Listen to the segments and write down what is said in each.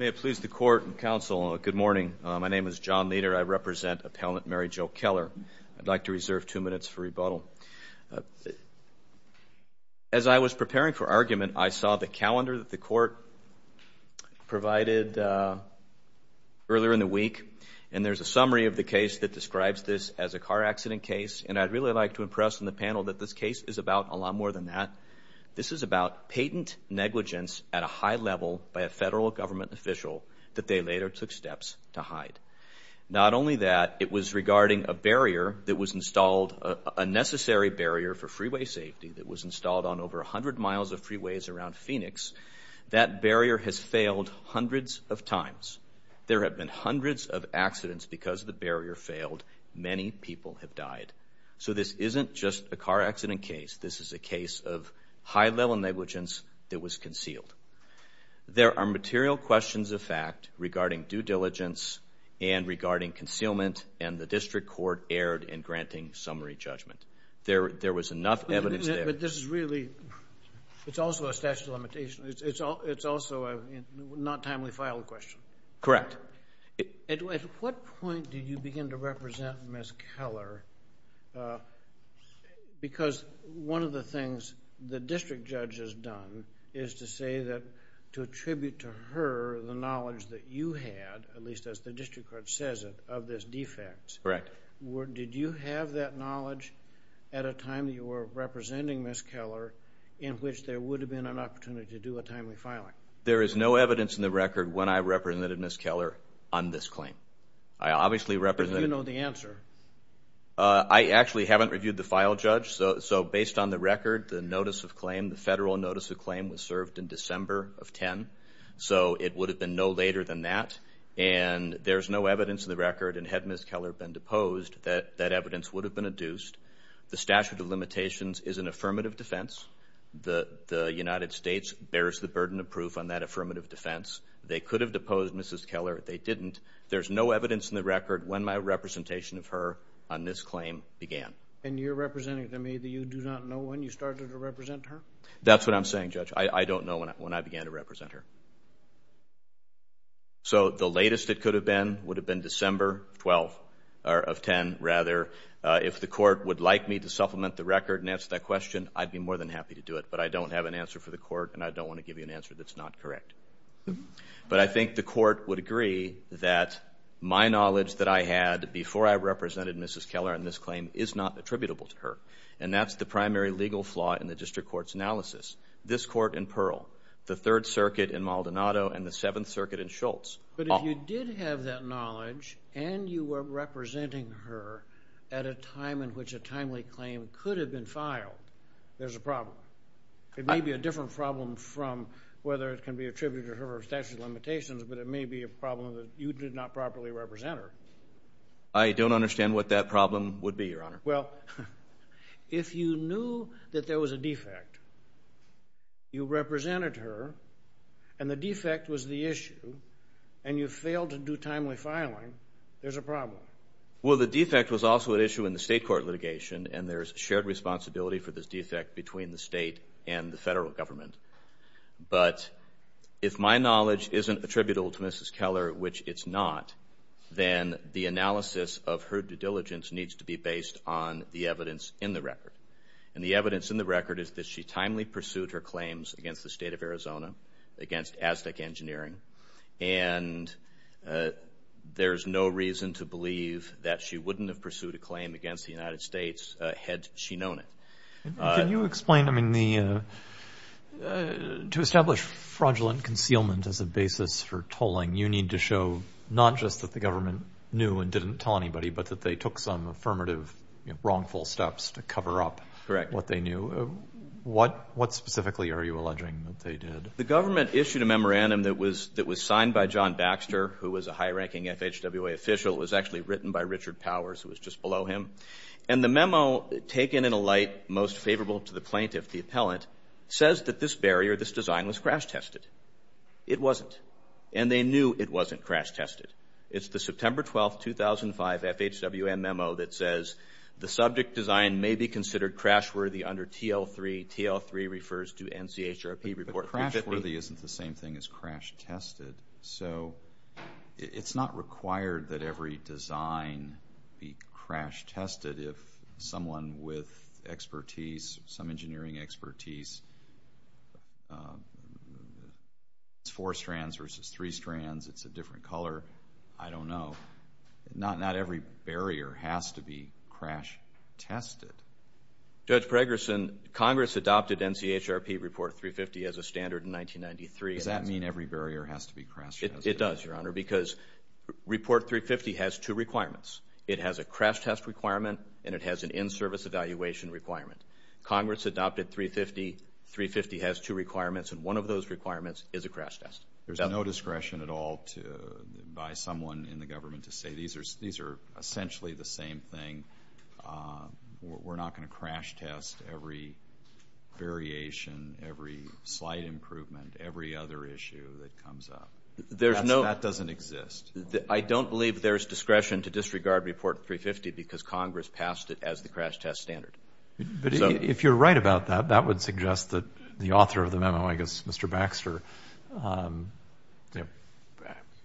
May it please the court and counsel, good morning. My name is John Leder. I represent Appellant Mary Jo Keller. I'd like to reserve two minutes for rebuttal. As I was preparing for argument, I saw the calendar that the court provided earlier in the week, and there's a summary of the case that describes this as a car accident case, and I'd really like to impress on the panel that this case is about a lot more than that. This is about patent negligence at a high level by a federal government official that they later took steps to hide. Not only that, it was regarding a barrier that was installed, a necessary barrier for freeway safety that was installed on over 100 miles of freeways around Phoenix. That barrier has failed hundreds of times. There have been hundreds of accidents because the barrier failed. Many people have died. So this isn't just a car accident case. This is a case of high-level negligence that was concealed. There are material questions of fact regarding due diligence and regarding concealment, and the district court erred in granting summary judgment. There was enough evidence there. But this is really, it's also a statute of limitations. It's also a not timely filed question. Correct. Mr. Keller, at what point did you begin to represent Ms. Keller? Because one of the things the district judge has done is to say that, to attribute to her the knowledge that you had, at least as the district court says it, of this defect. Correct. Did you have that knowledge at a time that you were representing Ms. Keller in which there would have been an opportunity to do a timely filing? There is no evidence in the record when I represented Ms. Keller on this claim. I obviously represented... But do you know the answer? I actually haven't reviewed the file, Judge. So based on the record, the notice of claim, the federal notice of claim was served in December of 10. So it would have been no later than that. And there's no evidence in the record, and had Ms. Keller been deposed, that evidence would have been adduced. The statute of limitations is an affirmative defense. The United States bears the burden of proof on that affirmative defense. They could have deposed Ms. Keller. They didn't. There's no evidence in the record when my representation of her on this claim began. And you're representing to me that you do not know when you started to represent her? That's what I'm saying, Judge. I don't know when I began to represent her. So the latest it could have been would have been December 12, or of 10, rather. If the court would like me to supplement the record and answer that question, I'd be more than happy to do it. But I don't have an answer for the court, and I don't want to give you an answer that's not correct. But I think the court would agree that my knowledge that I had before I represented Mrs. Keller on this claim is not attributable to her. And that's the primary legal flaw in the district court's analysis. This court in Pearl, the Third Circuit in Maldonado, and the Seventh Circuit in Schultz. But if you did have that knowledge, and you were representing her at a time in which a defect was filed, there's a problem. It may be a different problem from whether it can be attributed to her statute of limitations, but it may be a problem that you did not properly represent her. I don't understand what that problem would be, Your Honor. Well, if you knew that there was a defect, you represented her, and the defect was the issue, and you failed to do timely filing, there's a problem. Well, the defect was also an issue in the state court litigation, and there's shared responsibility for this defect between the state and the federal government. But if my knowledge isn't attributable to Mrs. Keller, which it's not, then the analysis of her due diligence needs to be based on the evidence in the record. And the evidence in the record is that she timely pursued her claims against the state of Arizona, against Aztec Engineering, and there's no reason to believe that she wouldn't have pursued a claim against the United States had she known it. Can you explain, I mean, to establish fraudulent concealment as a basis for tolling, you need to show not just that the government knew and didn't tell anybody, but that they took some affirmative, wrongful steps to cover up what they knew. What specifically are you alleging that they did? The government issued a memorandum that was signed by John Baxter, who was a high-ranking FHWA official. It was actually written by Richard Powers, who was just below him. And the memo, taken in a light most favorable to the plaintiff, the appellant, says that this barrier, this design, was crash-tested. It wasn't. And they knew it wasn't crash-tested. It's the September 12, 2005 FHWM memo that says, the subject design may be considered crash-worthy under TL3. TL3 refers to NCHRP Report 15. Crash-worthy isn't the same thing as crash-tested. So, it's not required that every design be crash-tested. If someone with expertise, some engineering expertise, has four strands versus three strands, it's a different color, I don't know. Not every barrier has to be crash-tested. Judge Pregerson, Congress adopted NCHRP Report 350 as a standard in 1993. Does that mean every barrier has to be crash-tested? It does, Your Honor, because Report 350 has two requirements. It has a crash-test requirement, and it has an in-service evaluation requirement. Congress adopted 350. 350 has two requirements, and one of those requirements is a crash-test. There's no discretion at all by someone in the government to say, these are essentially the same thing. We're not going to crash-test every variation, every slight improvement, every other issue that comes up. That doesn't exist. I don't believe there's discretion to disregard Report 350 because Congress passed it as the crash-test standard. If you're right about that, that would suggest that the author of the memo, I guess Mr. Baxter,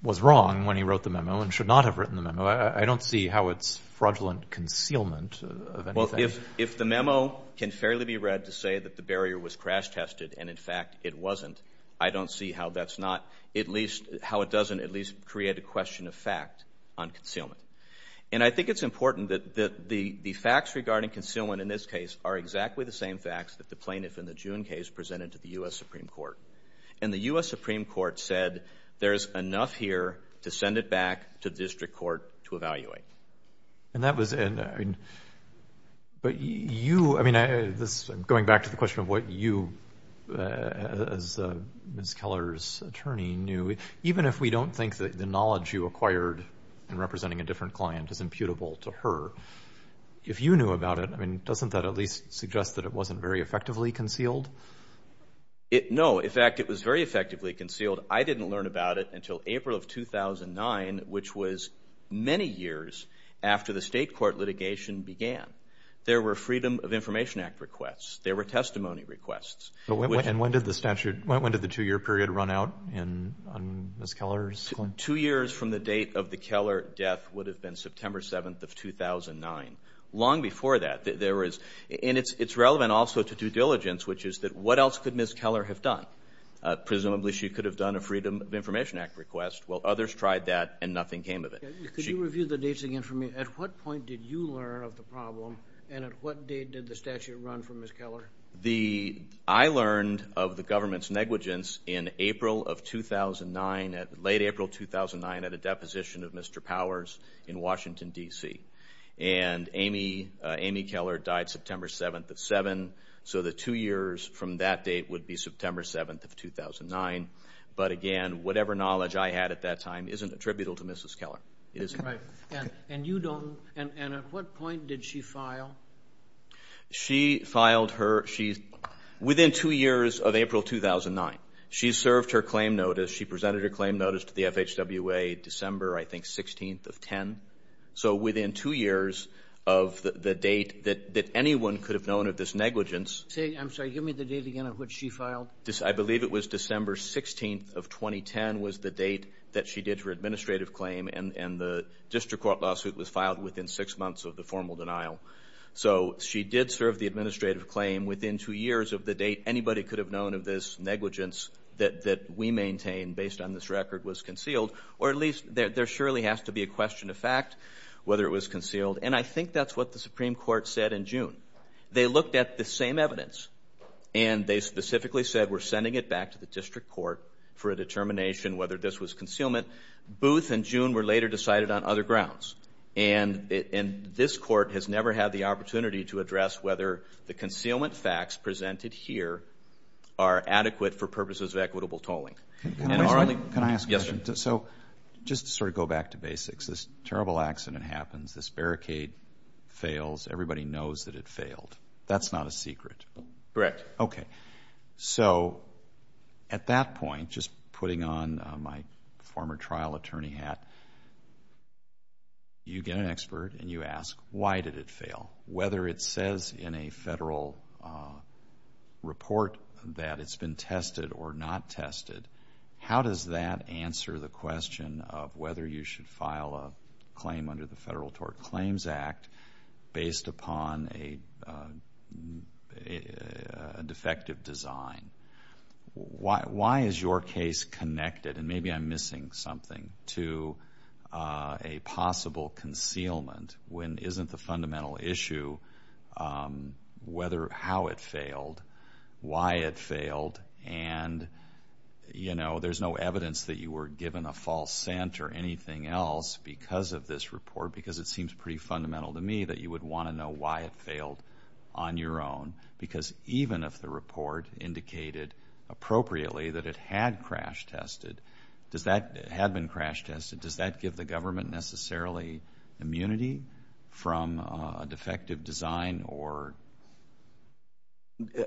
was wrong when he wrote the memo and should not have written the memo. I don't see how it's fraudulent concealment of anything. If the memo can fairly be read to say that the barrier was crash-tested, and in fact it wasn't, I don't see how that's not at least, how it doesn't at least create a question of fact on concealment. And I think it's important that the facts regarding concealment in this case are exactly the same facts that the plaintiff in the June case presented to the U.S. Supreme Court. And the U.S. Supreme Court said, there's enough here to send it back to the district court to evaluate. And that was, but you, I mean, going back to the question of what you as Ms. Keller's attorney knew, even if we don't think that the knowledge you acquired in representing a different client is imputable to her, if you knew about it, I mean, doesn't that at least mean that it wasn't very effectively concealed? No. In fact, it was very effectively concealed. I didn't learn about it until April of 2009, which was many years after the state court litigation began. There were Freedom of Information Act requests. There were testimony requests. And when did the statute, when did the two-year period run out on Ms. Keller's client? Two years from the date of the Keller death would have been September 7th of 2009. Long before that. There was, and it's relevant also to due diligence, which is that what else could Ms. Keller have done? Presumably, she could have done a Freedom of Information Act request. Well, others tried that and nothing came of it. Could you review the dates again for me? At what point did you learn of the problem and at what date did the statute run for Ms. Keller? I learned of the government's negligence in April of 2009, late April 2009, at a deposition of Mr. Powers in Washington, D.C. And Amy Keller died September 7th of 2007, so the two years from that date would be September 7th of 2009. But again, whatever knowledge I had at that time isn't attributable to Mrs. Keller. It isn't. And you don't, and at what point did she file? She filed her, within two years of April 2009. She served her claim notice. She presented her claim notice to the FHWA December, I think, 16th of 2010. So, within two years of the date that anyone could have known of this negligence... I'm sorry. Give me the date again of which she filed. I believe it was December 16th of 2010 was the date that she did her administrative claim and the district court lawsuit was filed within six months of the formal denial. So, she did serve the administrative claim within two years of the date anybody could have known of this negligence that we maintain based on this record was concealed. Or at least, there surely has to be a question of fact whether it was concealed. And I think that's what the Supreme Court said in June. They looked at the same evidence and they specifically said we're sending it back to the district court for a determination whether this was concealment. Booth and June were later decided on other grounds. And this court has never had the opportunity to address whether the concealment facts presented here are adequate for purposes of equitable tolling. Can I ask a question? So, just to sort of go back to basics, this terrible accident happens. This barricade fails. Everybody knows that it failed. That's not a secret. Correct. Okay. So, at that point, just putting on my scale, whether it says in a federal report that it's been tested or not tested, how does that answer the question of whether you should file a claim under the Federal Tort Claims Act based upon a defective design? Why is your case connected, and maybe I'm missing something, to a possible concealment when isn't the fundamental issue how it failed, why it failed? And, you know, there's no evidence that you were given a false scent or anything else because of this report, because it seems pretty fundamental to me that you would want to know why it failed on your own. Because even if the report indicated appropriately that it had crashed tested, does that give the government necessarily immunity from a defective design?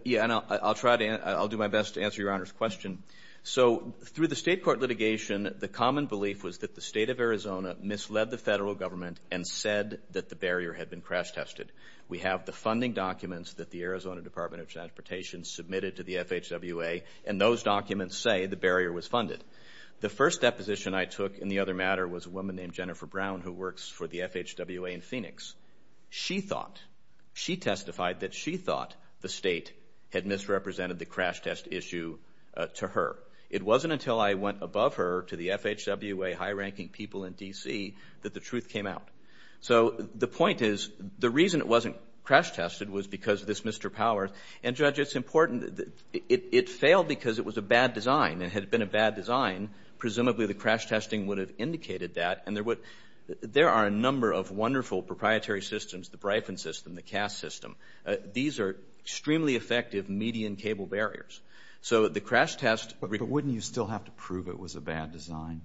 Yeah, and I'll do my best to answer Your Honor's question. So, through the state court litigation, the common belief was that the state of Arizona misled the federal government and said that the barrier had been crash tested. We have the funding documents that the Arizona Department of Transportation submitted to the FHWA, and those documents say the barrier was funded. The first deposition I took in the other matter was a woman named Jennifer Brown, who works for the FHWA in Phoenix. She thought, she testified that she thought the state had misrepresented the crash test issue to her. It wasn't until I went above her to the FHWA high-ranking people in D.C. that the truth came out. So, the point is, the reason it wasn't crash tested was because of this Mr. Power. And, Judge, it's important, it failed because it was a bad design. It had been a bad design. Presumably, the crash testing would have indicated that. And there are a number of wonderful proprietary systems, the Bryphon system, the CAST system. These are extremely effective median cable barriers. So, the crash test But wouldn't you still have to prove it was a bad design?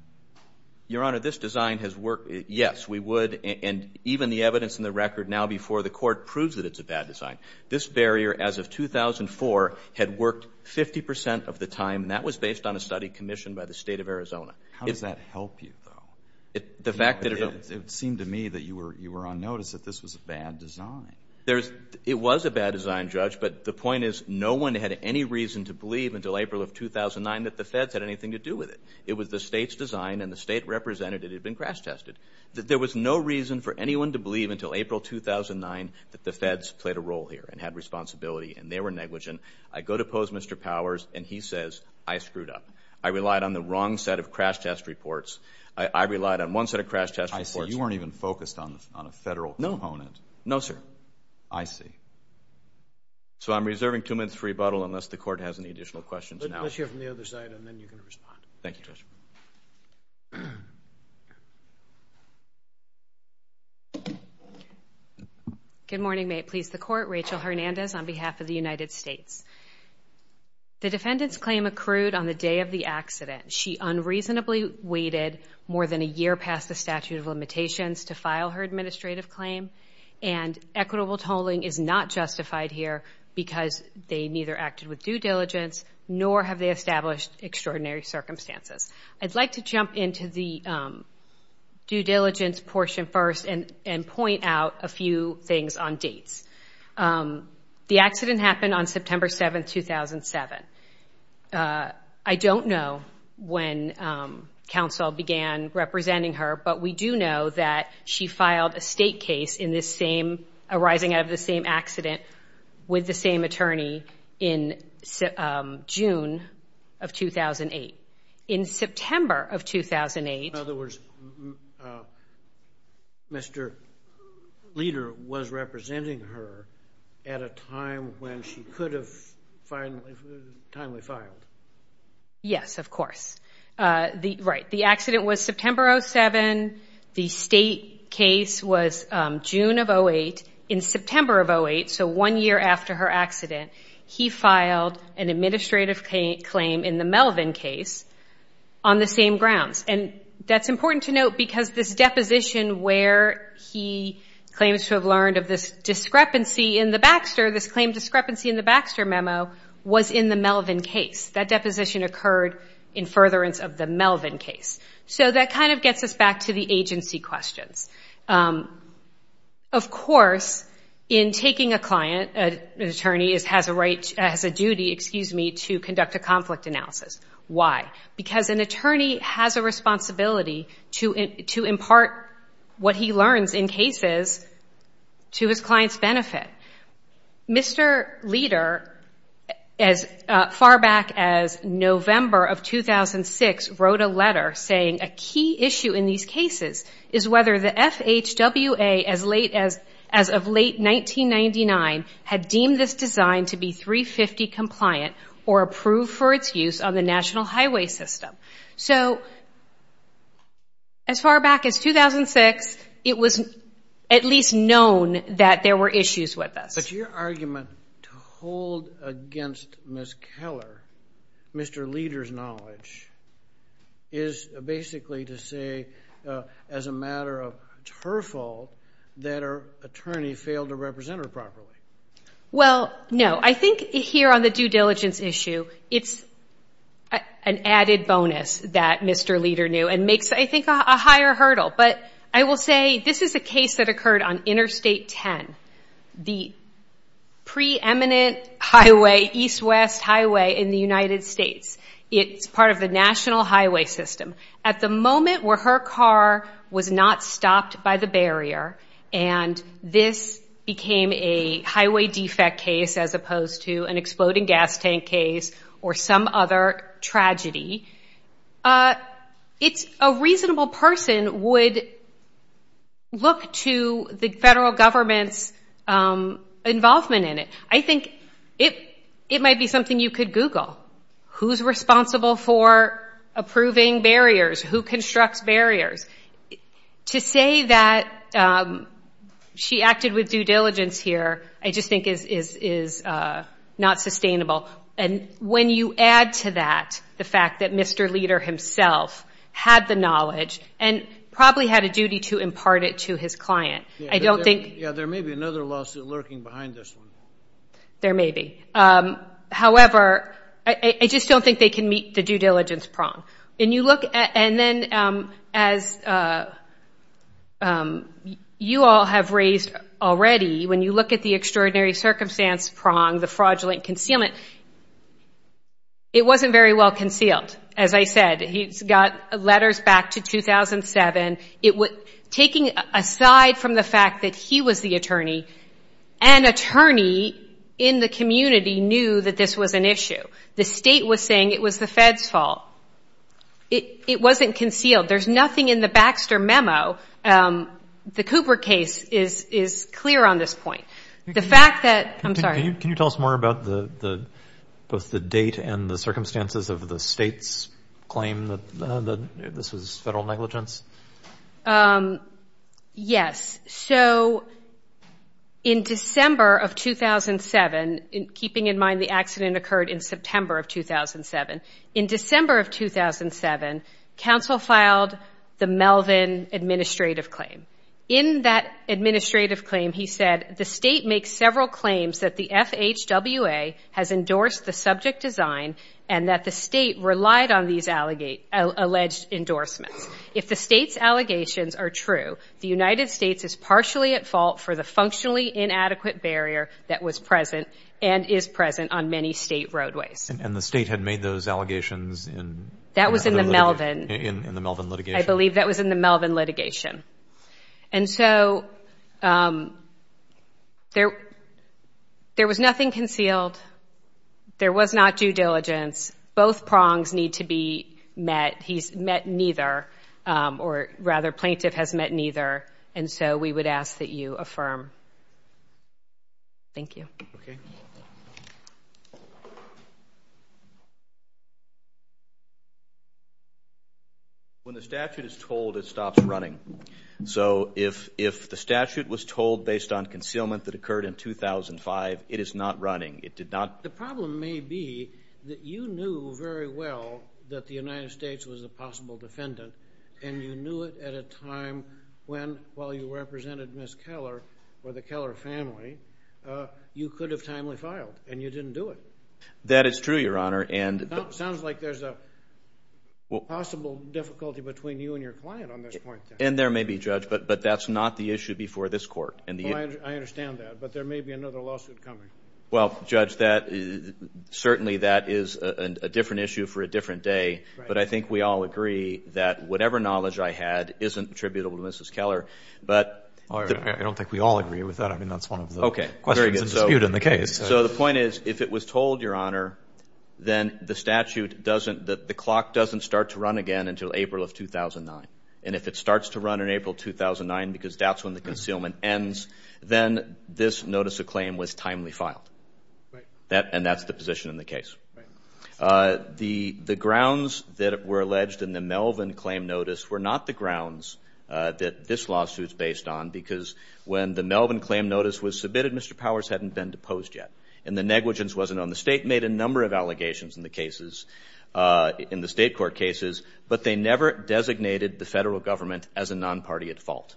Your Honor, this design has worked. Yes, we would. And even the evidence in the record now before the Court proves that it's a bad design. This barrier, as of 2004, had worked 50 percent of the time, and that was based on a study commissioned by the State of Arizona. How does that help you, though? The fact that it It seemed to me that you were on notice that this was a bad design. It was a bad design, Judge. But the point is, no one had any reason to believe until April of 2009 that the Feds had anything to do with it. It was the State's design, and the State representative had been crash tested. There was no reason for anyone to believe until April of 2009 that the Feds played a role here and had responsibility, and they were negligent. I go to pose Mr. Powers, and he says, I screwed up. I relied on the wrong set of crash test reports. I relied on one set of crash test reports. I see. You weren't even focused on a Federal component. No, sir. I see. So, I'm reserving two minutes for rebuttal unless the Court has any additional questions. Let's hear from the other side, and then you can respond. Thank you, Judge. Good morning. May it please the Court? Rachel Hernandez on behalf of the United States. The defendant's claim accrued on the day of the accident. She unreasonably waited more than a year past the statute of limitations to file her administrative claim, and equitable tolling is not justified here because they neither acted with due diligence, nor have they established extraordinary circumstances. I'd like to jump into the due diligence portion first and point out a few things on dates. The accident happened on September 7, 2007. I don't know when counsel began representing her, but we do know that she filed a State case arising out of the same accident with the same attorney in June of 2008. In September of 2008... In other words, Mr. Leder was representing her at a time when she could have timely filed. Yes, of course. Right. The accident was September 07. The State case was June of 08. In September of 08, so one year after her accident, he filed an administrative claim in the Melvin case on the same grounds. That's important to note because this deposition where he claims to have learned of this discrepancy in the Baxter, this claim discrepancy in the Baxter memo was in the Melvin case. That deposition occurred in furtherance of the Melvin case. That gets us back to the agency questions. Of course, in taking a client, an attorney has a duty to conduct a conflict analysis. Why? Because an attorney has a responsibility to impart what he learns in cases to his client's benefit. Mr. Leder, as far back as November of 2006, wrote a letter saying a key issue in these cases is whether the FHWA, as of late 1999, had deemed this design to be 350 compliant or approved for its use on the national highway system. As far back as 2006, it was at least known that there were issues with the FHWA. I think here on the due diligence issue, it's an added bonus that Mr. Leder knew and makes, I think, a higher hurdle. I will say this is a case that occurred on part of the national highway system. At the moment where her car was not stopped by the barrier and this became a highway defect case as opposed to an exploding gas tank case or some other tragedy, a reasonable person would look to the federal government's involvement in it. I think it might be something you could Google. Who's responsible for approving barriers? Who constructs barriers? To say that she acted with due diligence here, I just think, is not sustainable. And when you add to that the fact that Mr. Leder himself had the knowledge and probably had a duty to impart it to his client, I don't think... Yeah, there may be another lawsuit lurking behind this one. There may be. However, I just don't think they can meet the due diligence prong. And you look at... And then as you all have raised already, when you look at the extraordinary circumstance prong, the fraudulent concealment, it wasn't very well concealed. As I said, he's got letters to 2007. Taking aside from the fact that he was the attorney, an attorney in the community knew that this was an issue. The state was saying it was the Fed's fault. It wasn't concealed. There's nothing in the Baxter memo. The Cooper case is clear on this point. The fact that... I'm sorry. Can you tell us more about both the date and the circumstances of the state's claim, that this was federal negligence? Yes. So in December of 2007, keeping in mind the accident occurred in September of 2007, in December of 2007, counsel filed the Melvin administrative claim. In that administrative claim, he said, the state makes several claims that the FHWA has endorsed the subject design and that the state relied on these alleged endorsements. If the state's allegations are true, the United States is partially at fault for the functionally inadequate barrier that was present and is present on many state roadways. And the state had made those allegations in... That was in the Melvin... In the Melvin litigation. I believe that was in the Melvin litigation. And so there was nothing concealed. There was not due diligence. Both prongs need to be met. He's met neither, or rather plaintiff has met neither. And so we would ask that you affirm. Thank you. When the statute is told, it stops running. So if the statute was told based on concealment that occurred in 2005, it is not running. It did not... The problem may be that you knew very well that the United States was a possible defendant, and you knew it at a time when, while you represented Ms. Keller or the Keller family, you could have timely filed, and you didn't do it. That is true, Your Honor, and... Sounds like there's a possible difficulty between you and your client on this point. And there may be, Judge, but that's not the issue before this court. I understand that, but there may be another lawsuit coming. Well, Judge, certainly that is a different issue for a different day, but I think we all agree that whatever knowledge I had isn't attributable to Mrs. Keller, but... I don't think we all agree with that. I mean, that's one of the questions of dispute in the case. So the point is, if it was told, Your Honor, then the statute doesn't... The clock doesn't start to run again until April of 2009. And if it starts to run in April 2009, because that's when the concealment ends, then this notice of claim was timely filed. And that's the position in the case. The grounds that were alleged in the Melvin claim notice were not the grounds that this lawsuit's based on, because when the Melvin claim notice was submitted, Mr. Powers hadn't been deposed yet, and the negligence wasn't on. The state made a number of allegations in the cases, in the state court cases, but they never designated the federal government as a non-party at fault.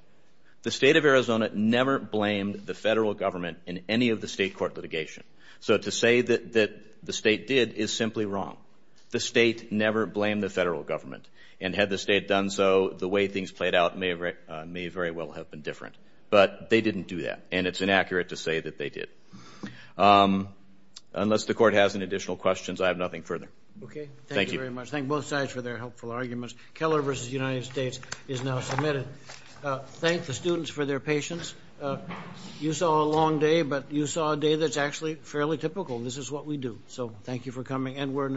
The state of Arizona never blamed the federal government in any of the state court litigation. So to say that the state did is simply wrong. The state never blamed the federal government. And had the state done so, the way things played out may very well have been different. But they didn't do that, and it's inaccurate to say that they did. Unless the court has any additional questions, I have nothing further. Okay. Thank you. Thank you very much. Thank both sides for their helpful arguments. Keller v. United States is now submitted. Thank the students for their patience. You saw a long day, but you saw a day that's actually fairly typical. This is what we do. So thank you for coming, and we're in adjournment.